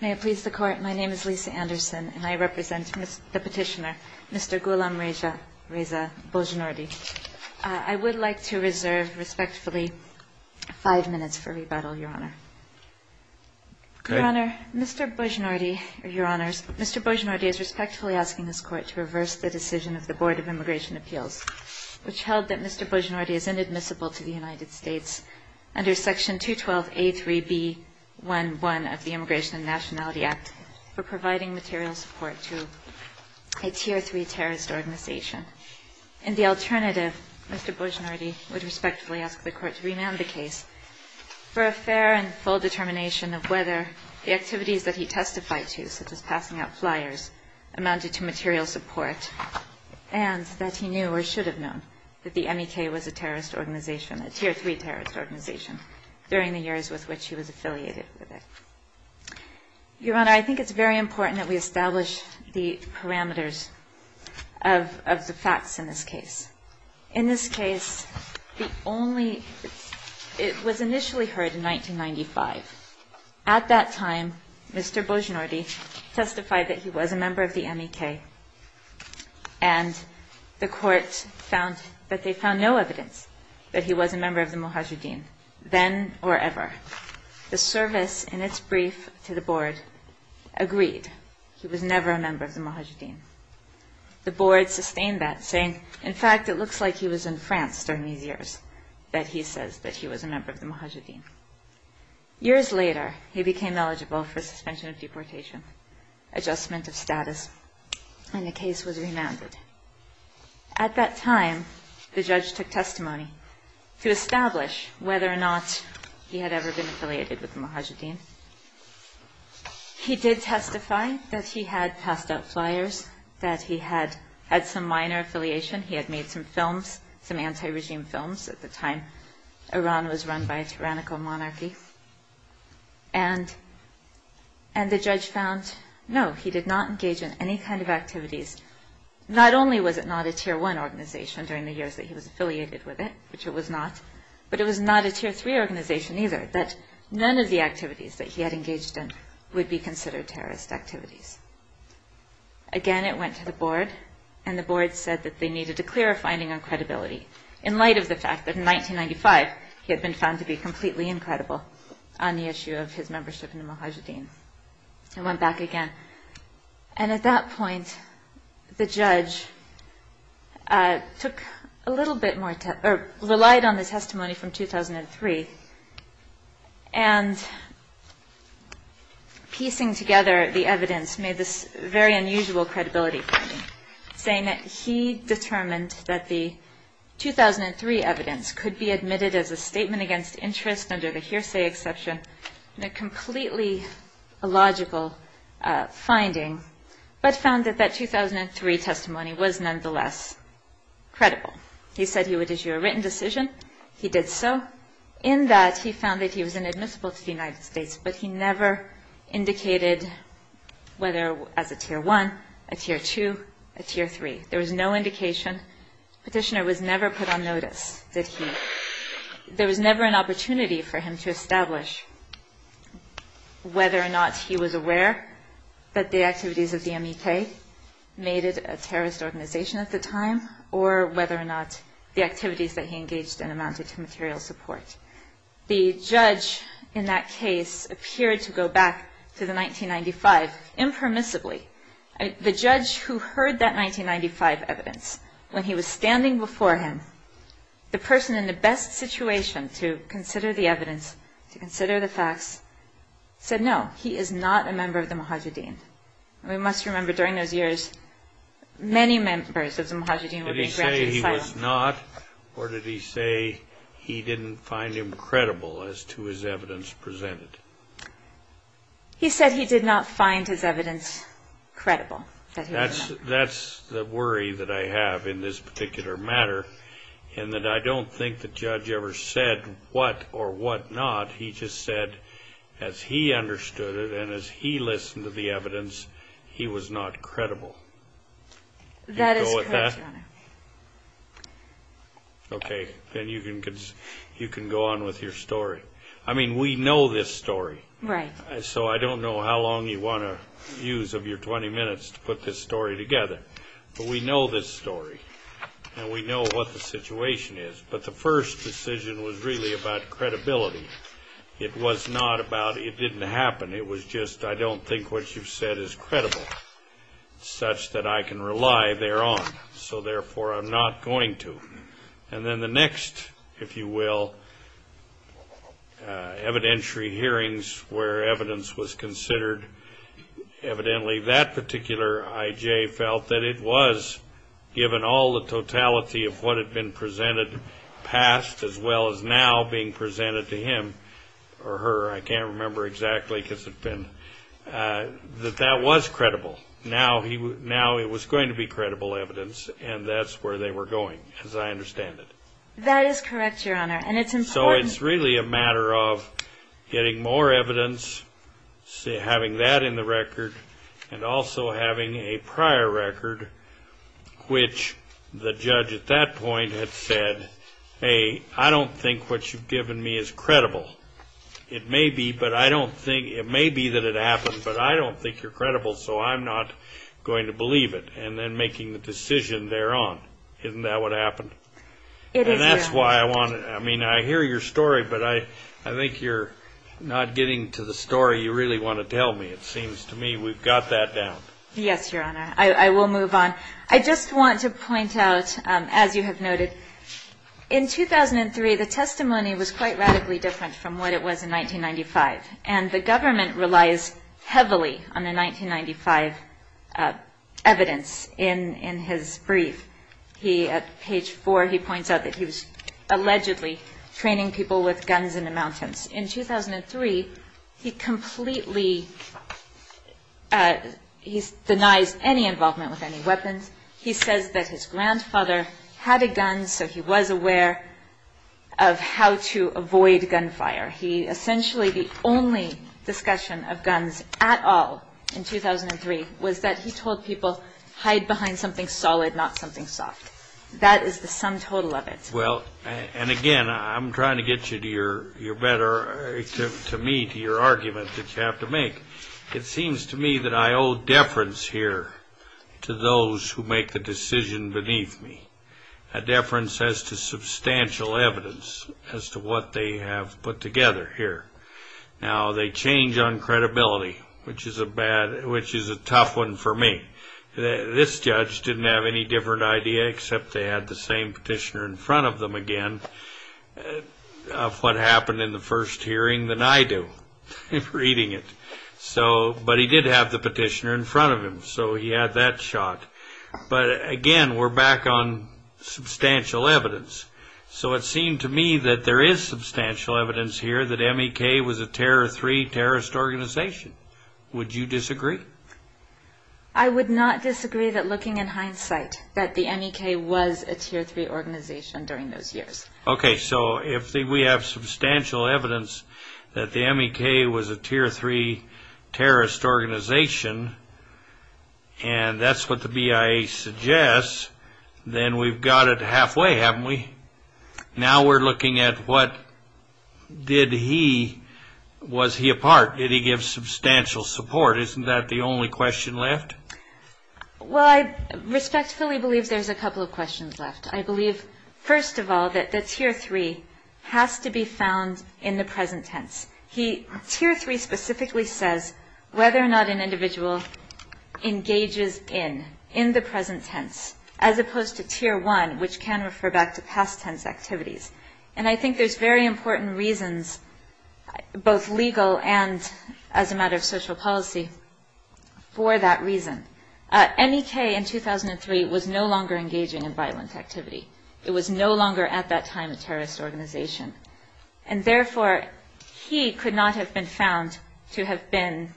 May it please the Court, my name is Lisa Anderson, and I represent the petitioner, Mr. Gholamreza Bonjnoordi. I would like to reserve, respectfully, five minutes for rebuttal, Your Honor. Your Honor, Mr. Bonjnoordi, Your Honors, Mr. Bonjnoordi is respectfully asking this Court to reverse the decision of the Board of Immigration Appeals, which held that Mr. Bonjnoordi is inadmissible to the United States under Section 212A3B11 of the Immigration and Nationality Act for providing material support to a Tier 3 terrorist organization. In the alternative, Mr. Bonjnoordi would respectfully ask the Court to remand the case for a fair and full determination of whether the activities that he testified to, such as passing out flyers, amounted to material support, and that he knew or should have known that the MEK was a terrorist organization, a Tier 3 terrorist organization, during the years with which he was affiliated with it. Your Honor, I think it's very important that we establish the parameters of the facts in this case. In this case, it was initially heard in 1995. At that time, Mr. Bonjnoordi testified that he was a member of the MEK, and the Court found that they found no evidence that he was a member of the Mujahideen, then or ever. The service in its brief to the Board agreed. He was never a member of the Mujahideen. The Board sustained that, saying, in fact, it looks like he was in France during these years, that he says that he was a member of the Mujahideen. Years later, he became eligible for suspension of deportation, adjustment of status, and the case was remanded. At that time, the judge took testimony to establish whether or not he had ever been affiliated with the Mujahideen. He did testify that he had passed out flyers, that he had had some minor affiliation. He had made some films, some anti-regime films at the time. Iran was run by a tyrannical monarchy. And the judge found, no, he did not engage in any kind of activities. Not only was it not a Tier 1 organization during the years that he was affiliated with it, which it was not, but it was not a Tier 3 organization either, that none of the activities that he had engaged in would be considered terrorist activities. Again, it went to the Board, and the Board said that they needed to clear a finding on credibility, in light of the fact that in 1995, he had been found to be completely incredible on the issue of his membership in the Mujahideen. It went back again. And at that point, the judge took a little bit more, or relied on the testimony from 2003, and piecing together the evidence made this very unusual credibility finding, saying that he determined that the 2003 evidence could be admitted as a statement against interest under the hearsay exception, and a completely illogical finding, but found that that 2003 testimony was nonetheless credible. He said he would issue a written decision. He did so. In that, he found that he was inadmissible to the United States, but he never indicated whether as a Tier 1, a Tier 2, a Tier 3. There was no indication. The petitioner was never put on notice, did he? There was never an opportunity for him to establish whether or not he was aware that the activities of the MEK made it a terrorist organization at the time, or whether or not the activities that he engaged in amounted to material support. The judge in that case appeared to go back to the 1995 impermissibly. The judge who heard that 1995 evidence, when he was standing before him, the person in the best situation to consider the evidence, to consider the facts, said, no, he is not a member of the Muhajirin. We must remember, during those years, many members of the Muhajirin were being granted asylum. Did he say he was not, or did he say he didn't find him credible as to his evidence presented? He said he did not find his evidence credible. That's the worry that I have in this particular matter, in that I don't think the judge ever said what or what not. He just said, as he understood it and as he listened to the evidence, he was not credible. That is correct, Your Honor. Okay, then you can go on with your story. I mean, we know this story. Right. So I don't know how long you want to use of your 20 minutes to put this story together. But we know this story, and we know what the situation is. But the first decision was really about credibility. It was not about it didn't happen. It was just I don't think what you've said is credible, such that I can rely thereon. So, therefore, I'm not going to. And then the next, if you will, evidentiary hearings where evidence was considered, evidently that particular I.J. felt that it was, given all the totality of what had been presented past as well as now being presented to him or her, I can't remember exactly because it's been, that that was credible. Now it was going to be credible evidence, and that's where they were going, as I understand it. That is correct, Your Honor, and it's important. So it's really a matter of getting more evidence, having that in the record, and also having a prior record which the judge at that point had said, hey, I don't think what you've given me is credible. It may be, but I don't think, it may be that it happened, but I don't think you're credible, so I'm not going to believe it, and then making the decision thereon, isn't that what happened? It is, Your Honor. And that's why I want to, I mean, I hear your story, but I think you're not getting to the story you really want to tell me. It seems to me we've got that down. Yes, Your Honor. I will move on. I just want to point out, as you have noted, in 2003, the testimony was quite radically different from what it was in 1995, and the government relies heavily on the 1995 evidence in his brief. He, at page four, he points out that he was allegedly training people with guns in the mountains. In 2003, he completely, he denies any involvement with any weapons. He says that his grandfather had a gun, so he was aware of how to avoid gunfire. He essentially, the only discussion of guns at all in 2003 was that he told people, hide behind something solid, not something soft. That is the sum total of it. Well, and again, I'm trying to get you to your better, to me, to your argument that you have to make. It seems to me that I owe deference here to those who make the decision beneath me, a deference as to substantial evidence as to what they have put together here. Now, they change on credibility, which is a tough one for me. This judge didn't have any different idea, except they had the same petitioner in front of them again, of what happened in the first hearing than I do, reading it. But he did have the petitioner in front of him, so he had that shot. But again, we're back on substantial evidence. So it seemed to me that there is substantial evidence here that MEK was a Tier 3 terrorist organization. Would you disagree? I would not disagree that looking in hindsight, that the MEK was a Tier 3 organization during those years. Okay, so if we have substantial evidence that the MEK was a Tier 3 terrorist organization, and that's what the BIA suggests, then we've got it halfway, haven't we? Now we're looking at what did he, was he a part? Did he give substantial support? Isn't that the only question left? Well, I respectfully believe there's a couple of questions left. I believe, first of all, that the Tier 3 has to be found in the present tense. Tier 3 specifically says whether or not an individual engages in, in the present tense, as opposed to Tier 1, which can refer back to past tense activities. And I think there's very important reasons, both legal and as a matter of social policy, for that reason. MEK in 2003 was no longer engaging in violent activity. It was no longer at that time a terrorist organization. And, therefore, he could not have been found to have been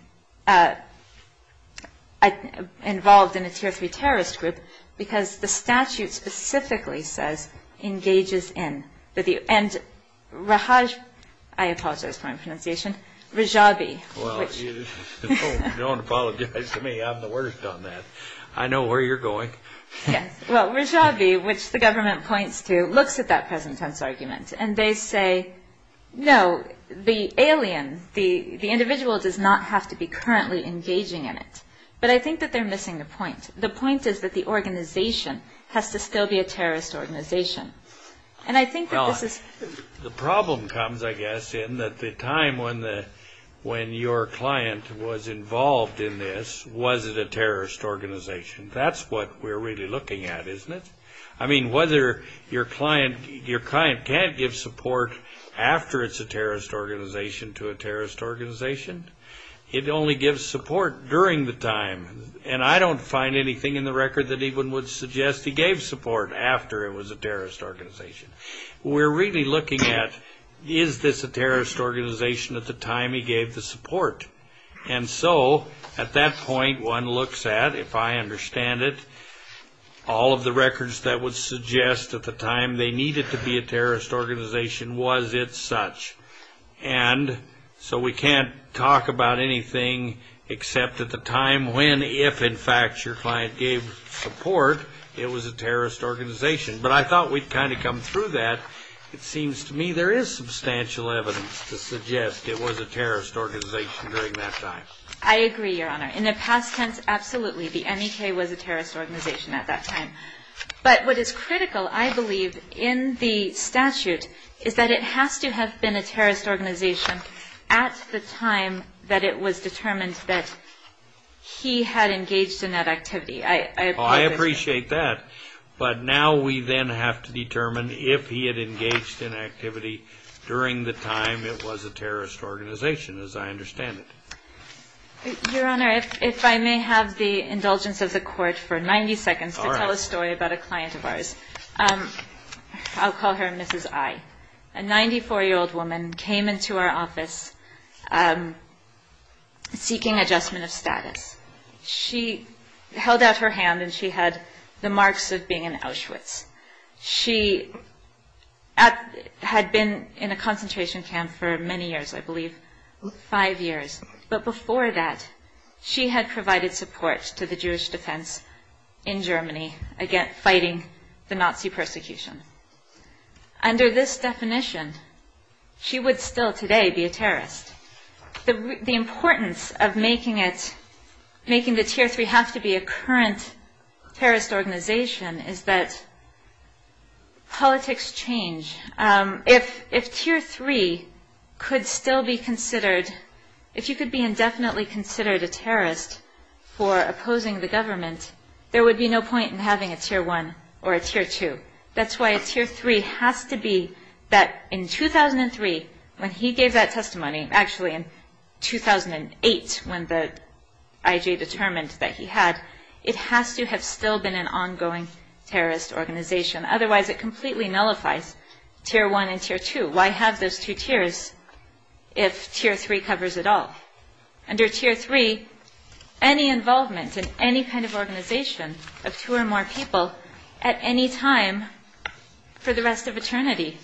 involved in a Tier 3 terrorist group because the statute specifically says engages in. And Rahaj, I apologize for my pronunciation, Rajabi. Well, don't apologize to me. I'm the worst on that. I know where you're going. Yes. Well, Rajabi, which the government points to, looks at that present tense argument. And they say, no, the alien, the individual does not have to be currently engaging in it. But I think that they're missing the point. The point is that the organization has to still be a terrorist organization. And I think that this is the problem comes, I guess, in that the time when your client was involved in this, was it a terrorist organization. That's what we're really looking at, isn't it? I mean, whether your client can't give support after it's a terrorist organization to a terrorist organization, it only gives support during the time. And I don't find anything in the record that even would suggest he gave support after it was a terrorist organization. We're really looking at, is this a terrorist organization at the time he gave the support? And so, at that point, one looks at, if I understand it, all of the records that would suggest at the time they needed to be a terrorist organization, was it such? And so we can't talk about anything except at the time when, if, in fact, your client gave support, it was a terrorist organization. But I thought we'd kind of come through that. It seems to me there is substantial evidence to suggest it was a terrorist organization during that time. I agree, Your Honor. In the past tense, absolutely, the MEK was a terrorist organization at that time. But what is critical, I believe, in the statute, is that it has to have been a terrorist organization at the time that it was determined that he had engaged in that activity. I appreciate that. But now we then have to determine if he had engaged in activity during the time it was a terrorist organization, as I understand it. Your Honor, if I may have the indulgence of the Court for 90 seconds to tell a story about a client of ours. I'll call her Mrs. I. A 94-year-old woman came into our office seeking adjustment of status. She held out her hand, and she had the marks of being an Auschwitz. She had been in a concentration camp for many years, I believe, five years. But before that, she had provided support to the Jewish defense in Germany fighting the Nazi persecution. Under this definition, she would still today be a terrorist. The importance of making the Tier 3 have to be a current terrorist organization is that politics change. If Tier 3 could still be considered, if you could be indefinitely considered a terrorist for opposing the government, there would be no point in having a Tier 1 or a Tier 2. That's why a Tier 3 has to be that in 2003, when he gave that testimony, actually in 2008 when the IJ determined that he had, it has to have still been an ongoing terrorist organization. Otherwise, it completely nullifies Tier 1 and Tier 2. Why have those two tiers if Tier 3 covers it all? Under Tier 3, any involvement in any kind of organization of two or more people at any time for the rest of eternity,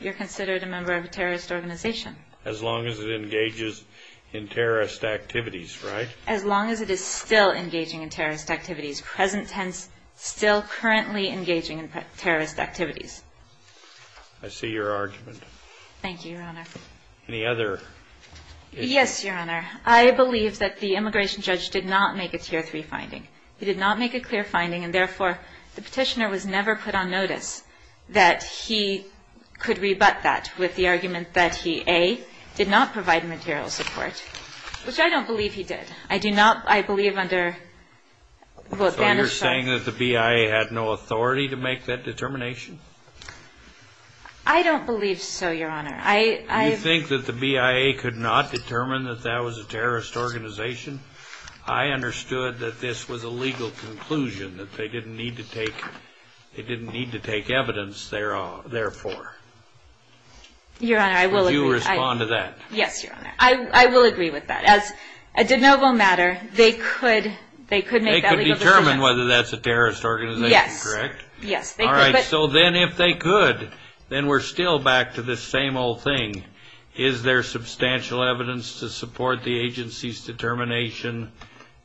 you're considered a member of a terrorist organization. As long as it engages in terrorist activities, right? As long as it is still engaging in terrorist activities, present tense, still currently engaging in terrorist activities. I see your argument. Thank you, Your Honor. Any other? Yes, Your Honor. I believe that the immigration judge did not make a Tier 3 finding. He did not make a clear finding, and therefore, the petitioner was never put on notice that he could rebut that with the argument that he, A, did not provide material support, which I don't believe he did. I do not, I believe under, well, Bannister. So you're saying that the BIA had no authority to make that determination? I don't believe so, Your Honor. You think that the BIA could not determine that that was a terrorist organization? I understood that this was a legal conclusion, that they didn't need to take evidence therefore. Your Honor, I will agree. Would you respond to that? Yes, Your Honor. I will agree with that. As a de novo matter, they could make that legal decision. They could determine whether that's a terrorist organization, correct? Yes. All right, so then if they could, then we're still back to the same old thing. Is there substantial evidence to support the agency's determination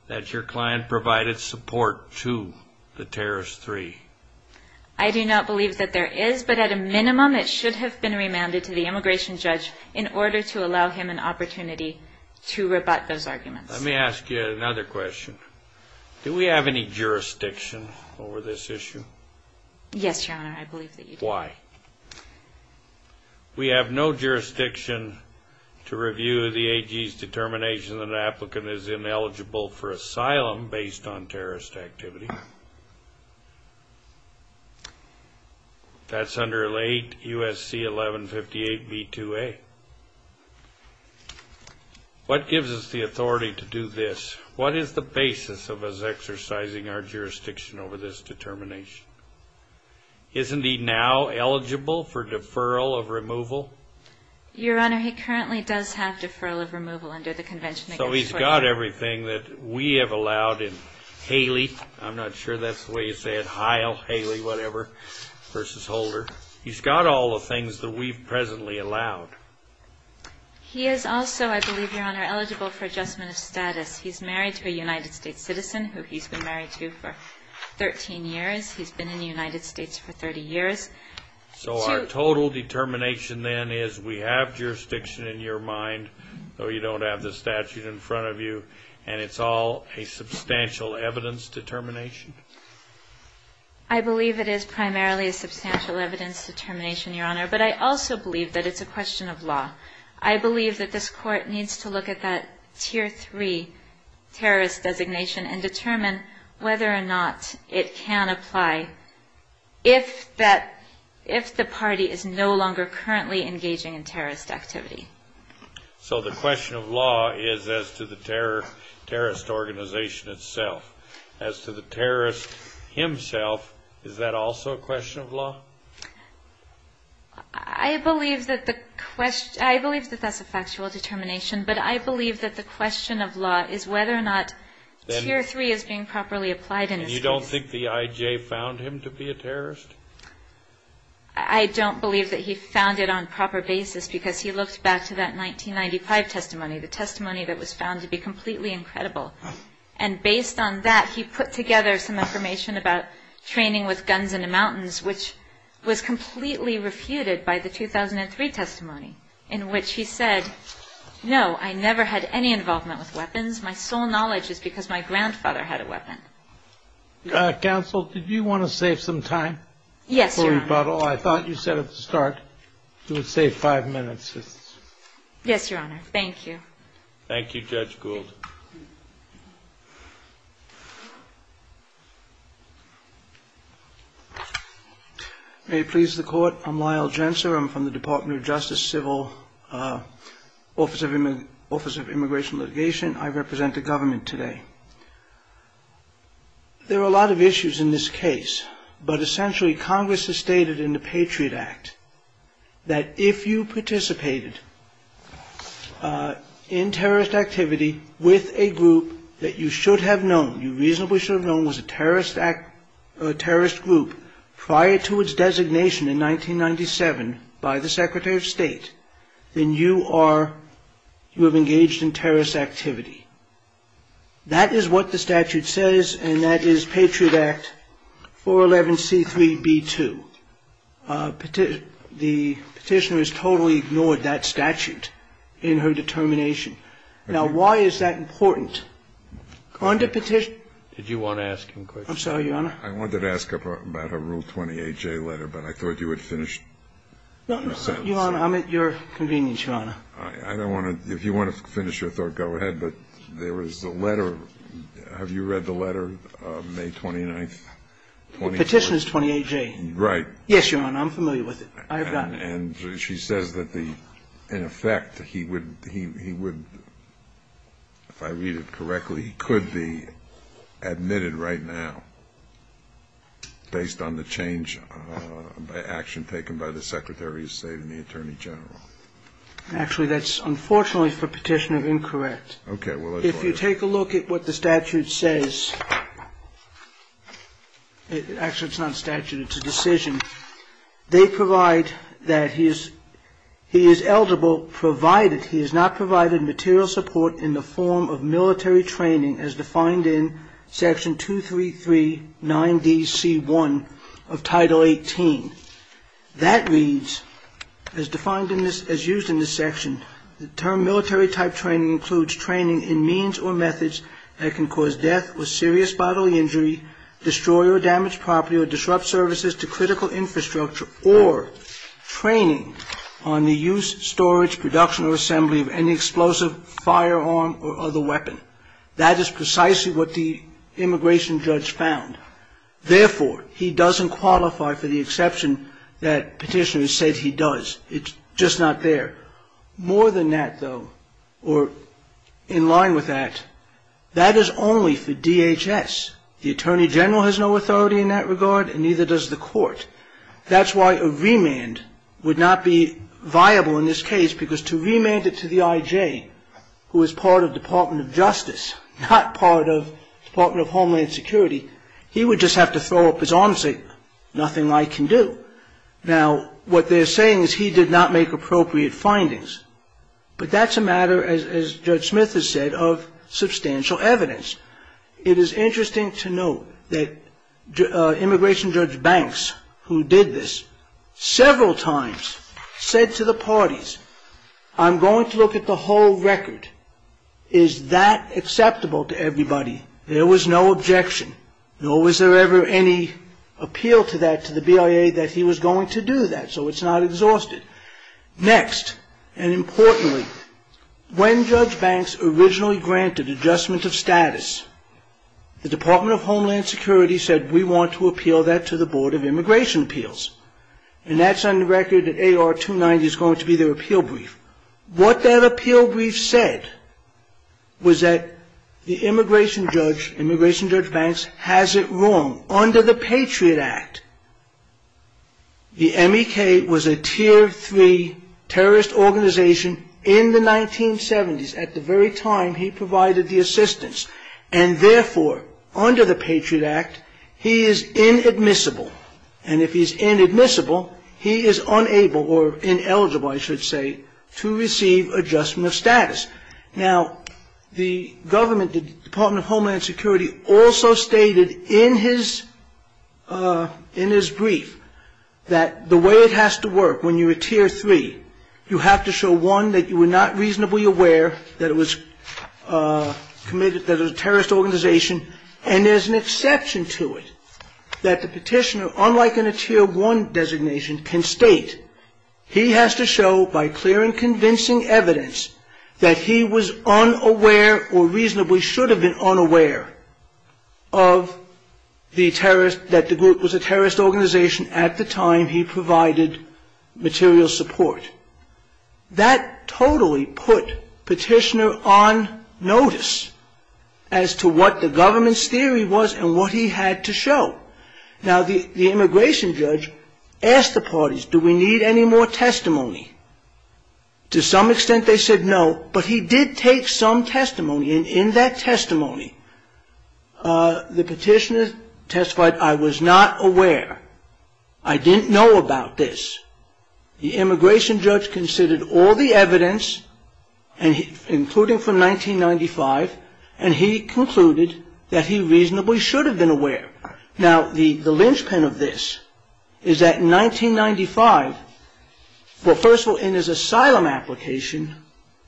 that your client provided support to the terrorist 3? I do not believe that there is, but at a minimum, it should have been remanded to the immigration judge in order to allow him an opportunity to rebut those arguments. Let me ask you another question. Do we have any jurisdiction over this issue? Yes, Your Honor, I believe that you do. Why? We have no jurisdiction to review the agency's determination that an applicant is ineligible for asylum based on terrorist activity. That's under 8 U.S.C. 1158b2a. What gives us the authority to do this? What is the basis of us exercising our jurisdiction over this determination? Isn't he now eligible for deferral of removal? Your Honor, he currently does have deferral of removal under the Convention Against Torture. So he's got everything that we have allowed in Haley. I'm not sure that's the way you say it, Hile, Haley, whatever, versus Holder. He's got all the things that we've presently allowed. He is also, I believe, Your Honor, eligible for adjustment of status. He's married to a United States citizen who he's been married to for 13 years. He's been in the United States for 30 years. So our total determination then is we have jurisdiction in your mind, though you don't have the statute in front of you, and it's all a substantial evidence determination? I believe it is primarily a substantial evidence determination, Your Honor, but I also believe that it's a question of law. I believe that this Court needs to look at that Tier 3 terrorist designation and determine whether or not it can apply if the party is no longer currently engaging in terrorist activity. So the question of law is as to the terrorist organization itself. As to the terrorist himself, is that also a question of law? I believe that that's a factual determination, but I believe that the question of law is whether or not Tier 3 is being properly applied in this case. And you don't think the I.J. found him to be a terrorist? I don't believe that he found it on proper basis because he looked back to that 1995 testimony, the testimony that was found to be completely incredible. And based on that, he put together some information about training with guns in the mountains, which was completely refuted by the 2003 testimony in which he said, no, I never had any involvement with weapons. My sole knowledge is because my grandfather had a weapon. Counsel, did you want to save some time? Yes, Your Honor. I thought you said at the start you would save five minutes. Yes, Your Honor. Thank you. Thank you, Judge Gould. May it please the Court. I'm Lyle Jentzer. I'm from the Department of Justice, Civil, Office of Immigration Litigation. I represent the government today. There are a lot of issues in this case, but essentially Congress has stated in the Patriot Act that if you participated in terrorist activity, with a group that you should have known, you reasonably should have known was a terrorist group, prior to its designation in 1997 by the Secretary of State, then you are, you have engaged in terrorist activity. That is what the statute says, and that is Patriot Act 411C3B2. The petitioner has totally ignored that statute in her determination. Now, why is that important? Under petition ---- Did you want to ask him a question? I'm sorry, Your Honor. I wanted to ask about her Rule 28J letter, but I thought you had finished your sentence. Your Honor, I'm at your convenience, Your Honor. I don't want to ---- if you want to finish your thought, go ahead. But there was a letter. Have you read the letter, May 29th? Petitioner's 28J. Yes, Your Honor. I'm familiar with it. I have gotten it. And she says that the ---- in effect, he would ---- if I read it correctly, he could be admitted right now based on the change by action taken by the Secretary of State and the Attorney General. Actually, that's unfortunately for Petitioner incorrect. Okay. If you take a look at what the statute says, actually it's not a statute, it's a decision. They provide that he is eligible provided he has not provided material support in the form of military training as defined in Section 233-9DC1 of Title 18. That reads, as defined in this ---- as used in this section, the term military type training includes training in means or methods that can cause death with serious bodily injury, destroy or damage property, or disrupt services to critical infrastructure, or training on the use, storage, production, or assembly of any explosive, firearm, or other weapon. That is precisely what the immigration judge found. Therefore, he doesn't qualify for the exception that Petitioner has said he does. It's just not there. More than that, though, or in line with that, that is only for DHS. The Attorney General has no authority in that regard and neither does the court. That's why a remand would not be viable in this case because to remand it to the IJ, who is part of Department of Justice, not part of Department of Homeland Security, he would just have to throw up his arms and say, nothing I can do. Now, what they're saying is he did not make appropriate findings. But that's a matter, as Judge Smith has said, of substantial evidence. It is interesting to note that Immigration Judge Banks, who did this several times, said to the parties, I'm going to look at the whole record. Is that acceptable to everybody? There was no objection. Nor was there ever any appeal to that to the BIA that he was going to do that, so it's not exhausted. Next, and importantly, when Judge Banks originally granted adjustment of status, the Department of Homeland Security said, we want to appeal that to the Board of Immigration Appeals. And that's on the record that AR-290 is going to be their appeal brief. What that appeal brief said was that the Immigration Judge Banks has it wrong. Under the Patriot Act, the MEK was a Tier 3 terrorist organization in the 1970s, at the very time he provided the assistance. And therefore, under the Patriot Act, he is inadmissible. And if he's inadmissible, he is unable, or ineligible, I should say, to receive adjustment of status. Now, the government, the Department of Homeland Security, also stated in his brief that the way it has to work when you're a Tier 3, you have to show, one, that you were not reasonably aware that it was a terrorist organization, and there's an exception to it, that the petitioner, unlike in a Tier 1 designation, can state he has to show by clear and convincing evidence that he was unaware or reasonably should have been unaware of the terrorist, that the group was a terrorist organization at the time he provided material support. That totally put petitioner on notice as to what the government's theory was and what he had to show. Now, the Immigration Judge asked the parties, do we need any more testimony? To some extent, they said no, but he did take some testimony, and in that testimony, the petitioner testified, I was not aware. I didn't know about this. The Immigration Judge considered all the evidence, including from 1995, and he concluded that he reasonably should have been aware. Now, the linchpin of this is that in 1995, well, first of all, in his asylum application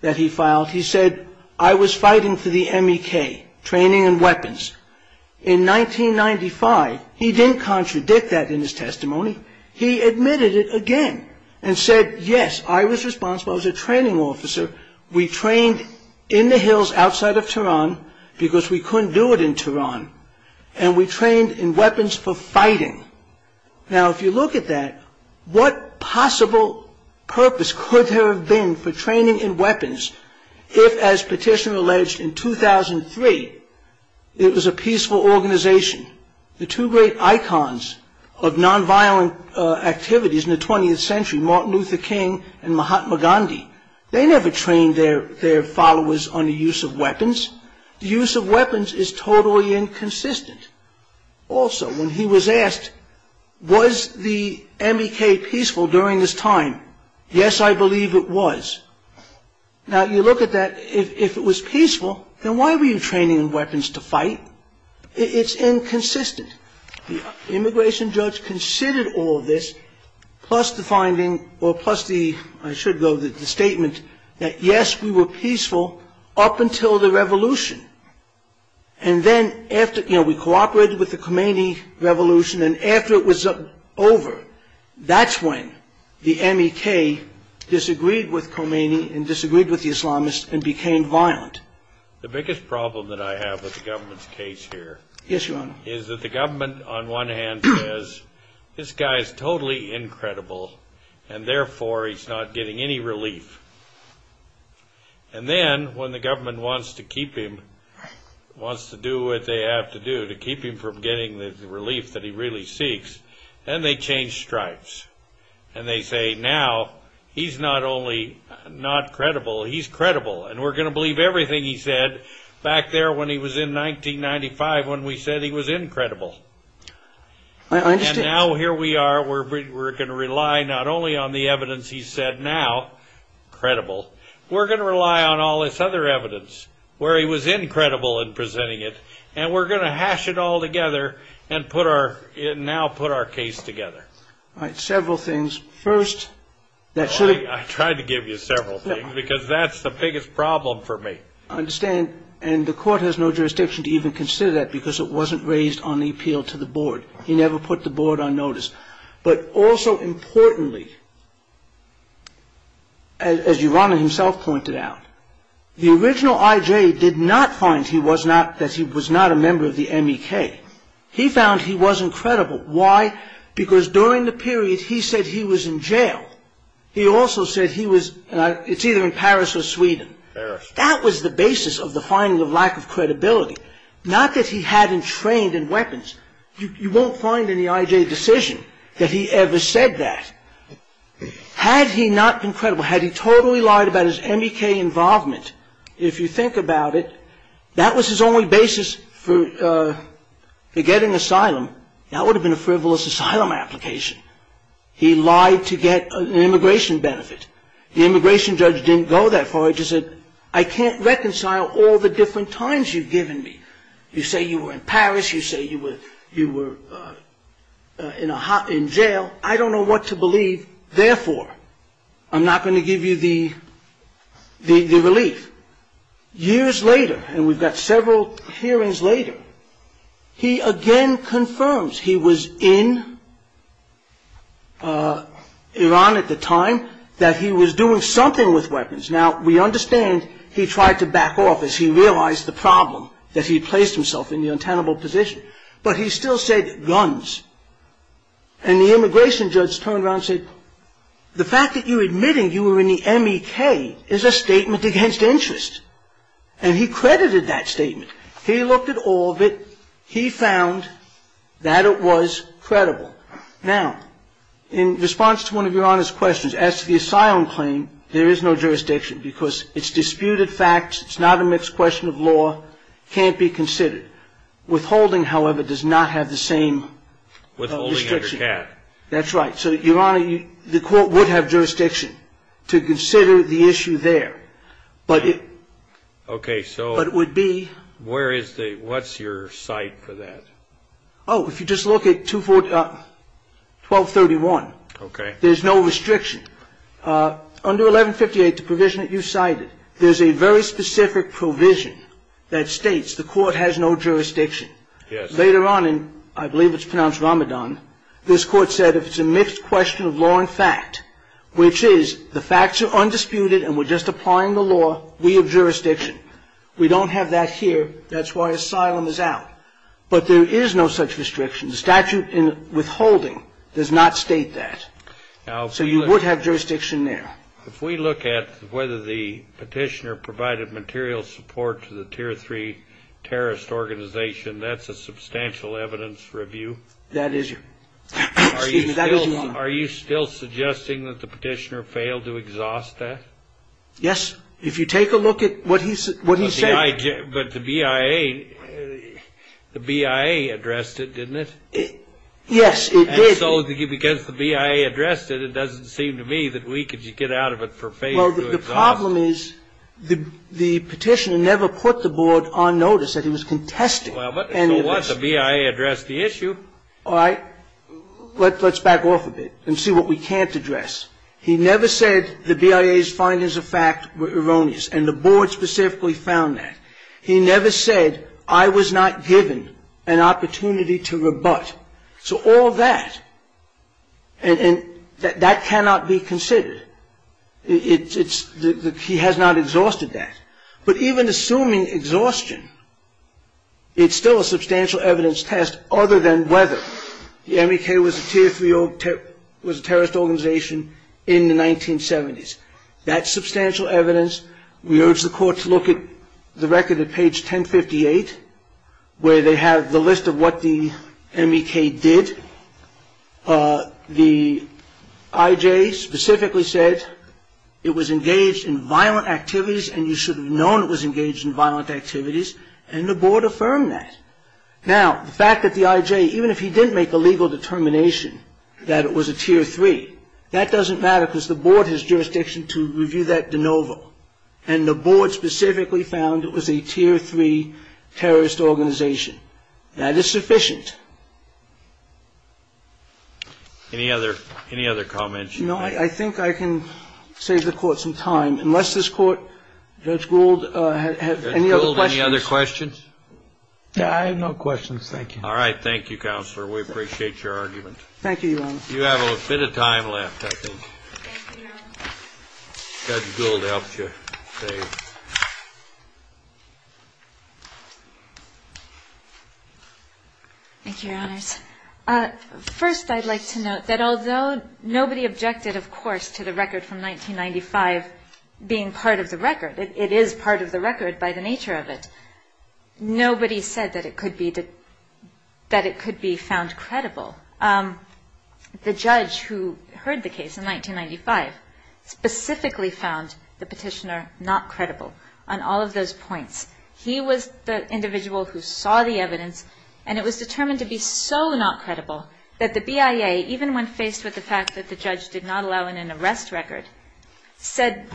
that he filed, he said, I was fighting for the MEK, training and weapons. In 1995, he didn't contradict that in his testimony. He admitted it again and said, yes, I was responsible. I was a training officer. We trained in the hills outside of Tehran because we couldn't do it in Tehran, and we trained in weapons for fighting. Now, if you look at that, what possible purpose could there have been for training in weapons if, as petitioner alleged in 2003, it was a peaceful organization? The two great icons of nonviolent activities in the 20th century, Martin Luther King and Mahatma Gandhi, they never trained their followers on the use of weapons. The use of weapons is totally inconsistent. Also, when he was asked, was the MEK peaceful during this time, yes, I believe it was. Now, you look at that, if it was peaceful, then why were you training in weapons to fight? It's inconsistent. The immigration judge considered all of this, plus the finding, or plus the, I should go, the statement that, yes, we were peaceful up until the revolution. And then after, you know, we cooperated with the Khomeini revolution, and after it was over, that's when the MEK disagreed with Khomeini and disagreed with the Islamists and became violent. The biggest problem that I have with the government's case here is that the government, on one hand, says this guy is totally incredible, and therefore he's not getting any relief. And then when the government wants to keep him, wants to do what they have to do to keep him from getting the relief that he really seeks, then they change stripes. And they say now he's not only not credible, he's credible, and we're going to believe everything he said back there when he was in 1995 when we said he was incredible. And now here we are, we're going to rely not only on the evidence he's said now, credible, we're going to rely on all this other evidence where he was incredible in presenting it, and we're going to hash it all together and now put our case together. All right, several things. I tried to give you several things, because that's the biggest problem for me. I understand, and the court has no jurisdiction to even consider that, because it wasn't raised on the appeal to the board. He never put the board on notice. But also importantly, as Yorana himself pointed out, the original IJ did not find that he was not a member of the MEK. He found he was incredible. Why? Because during the period he said he was in jail, he also said he was, it's either in Paris or Sweden. That was the basis of the finding of lack of credibility, not that he hadn't trained in weapons. You won't find in the IJ decision that he ever said that. Had he not been credible, had he totally lied about his MEK involvement, if you think about it, that was his only basis for getting asylum. That would have been a frivolous asylum application. He lied to get an immigration benefit. The immigration judge didn't go that far. He just said, I can't reconcile all the different times you've given me. You say you were in Paris, you say you were in jail. I don't know what to believe. Therefore, I'm not going to give you the relief. Years later, and we've got several hearings later, he again confirms he was in Iran at the time, that he was doing something with weapons. Now, we understand he tried to back off as he realized the problem, that he placed himself in the untenable position. But he still said guns. And the immigration judge turned around and said, Well, the fact that you're admitting you were in the MEK is a statement against interest. And he credited that statement. He looked at all of it. He found that it was credible. Now, in response to one of Your Honor's questions, as to the asylum claim, there is no jurisdiction because it's disputed facts. It's not a mixed question of law. It can't be considered. Withholding, however, does not have the same restriction. Withholding under cap. That's right. So, Your Honor, the court would have jurisdiction to consider the issue there. But it would be What's your cite for that? Oh, if you just look at 1231. Okay. There's no restriction. Under 1158, the provision that you cited, there's a very specific provision that states the court has no jurisdiction. Yes. Later on, I believe it's pronounced Ramadan, this court said if it's a mixed question of law and fact, which is the facts are undisputed and we're just applying the law, we have jurisdiction. We don't have that here. That's why asylum is out. But there is no such restriction. The statute in withholding does not state that. So you would have jurisdiction there. If we look at whether the petitioner provided material support to the tier three terrorist organization, that's a substantial evidence review. That is. Are you still suggesting that the petitioner failed to exhaust that? Yes. If you take a look at what he said. But the BIA, the BIA addressed it, didn't it? Yes, it did. And so because the BIA addressed it, it doesn't seem to me that we could get out of it for failure to exhaust it. Well, the problem is the petitioner never put the board on notice that he was contesting. Well, so what? The BIA addressed the issue. All right. Let's back off a bit and see what we can't address. He never said the BIA's findings of fact were erroneous, and the board specifically found that. He never said, I was not given an opportunity to rebut. So all that, and that cannot be considered. He has not exhausted that. But even assuming exhaustion, it's still a substantial evidence test, other than whether the MEK was a terrorist organization in the 1970s. That's substantial evidence. We urge the court to look at the record at page 1058, where they have the list of what the MEK did. The IJ specifically said it was engaged in violent activities, and you should have known it was engaged in violent activities, and the board affirmed that. Now, the fact that the IJ, even if he didn't make a legal determination that it was a Tier 3, that doesn't matter because the board has jurisdiction to review that de novo, and the board specifically found it was a Tier 3 terrorist organization. That is sufficient. Any other comments? No. I think I can save the Court some time, unless this Court, Judge Gould, has any other questions. Judge Gould, any other questions? I have no questions. Thank you. All right. Thank you, Counselor. We appreciate your argument. Thank you, Your Honor. You have a bit of time left, I think. Thank you, Your Honor. Judge Gould helps you save. Thank you, Your Honors. First, I'd like to note that although nobody objected, of course, to the record from 1995 being part of the record, it is part of the record by the nature of it, nobody said that it could be found credible. The judge who heard the case in 1995 specifically found the petitioner not credible. On all of those points, he was the individual who saw the evidence, and it was determined to be so not credible that the BIA, even when faced with the fact that the judge did not allow in an arrest record, said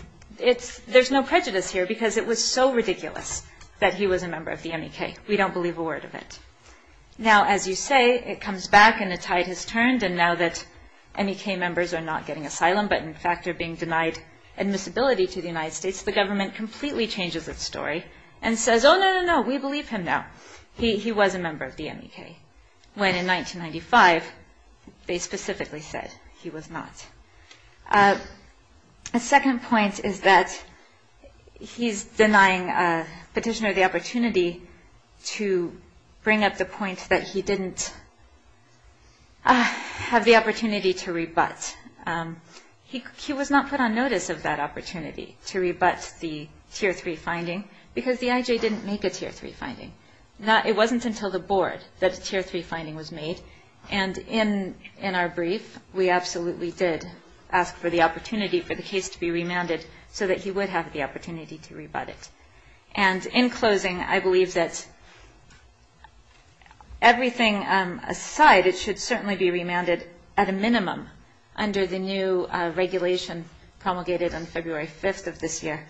there's no prejudice here because it was so ridiculous that he was a member of the MEK. We don't believe a word of it. Now, as you say, it comes back and the tide has turned, and now that MEK members are not getting asylum but, in fact, are being denied admissibility to the United States, the government completely changes its story and says, oh, no, no, no, we believe him now. He was a member of the MEK when, in 1995, they specifically said he was not. A second point is that he's denying a petitioner the opportunity to bring up the point that he didn't have the opportunity to rebut. He was not put on notice of that opportunity to rebut the Tier 3 finding because the IJ didn't make a Tier 3 finding. It wasn't until the board that a Tier 3 finding was made, and in our brief we absolutely did ask for the opportunity for the case to be remanded so that he would have the opportunity to rebut it. And in closing, I believe that everything aside, it should certainly be remanded at a minimum under the new regulation promulgated on February 5th of this year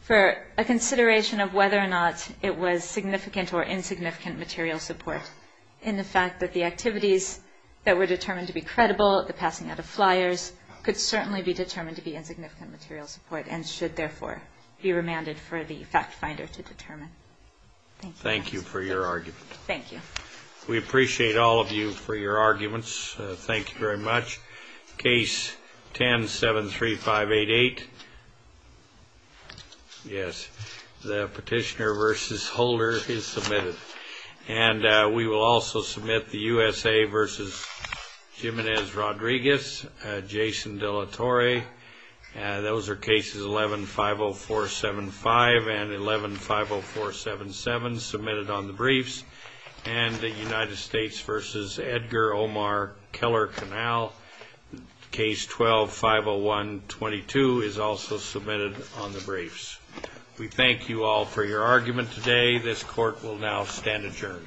for a consideration of whether or not it was significant or insignificant material support in the fact that the activities that were determined to be credible, the passing out of flyers, could certainly be determined to be insignificant material support and should therefore be remanded for the fact finder to determine. Thank you. Thank you for your argument. Thank you. We appreciate all of you for your arguments. Thank you very much. Case 10-73588. Yes, the petitioner versus holder is submitted. And we will also submit the USA versus Jimenez-Rodriguez, Jason De La Torre. Those are cases 11-50475 and 11-50477 submitted on the briefs. And the United States versus Edgar Omar Keller-Canal, case 12-50122 is also submitted on the briefs. We thank you all for your argument today. This court will now stand adjourned.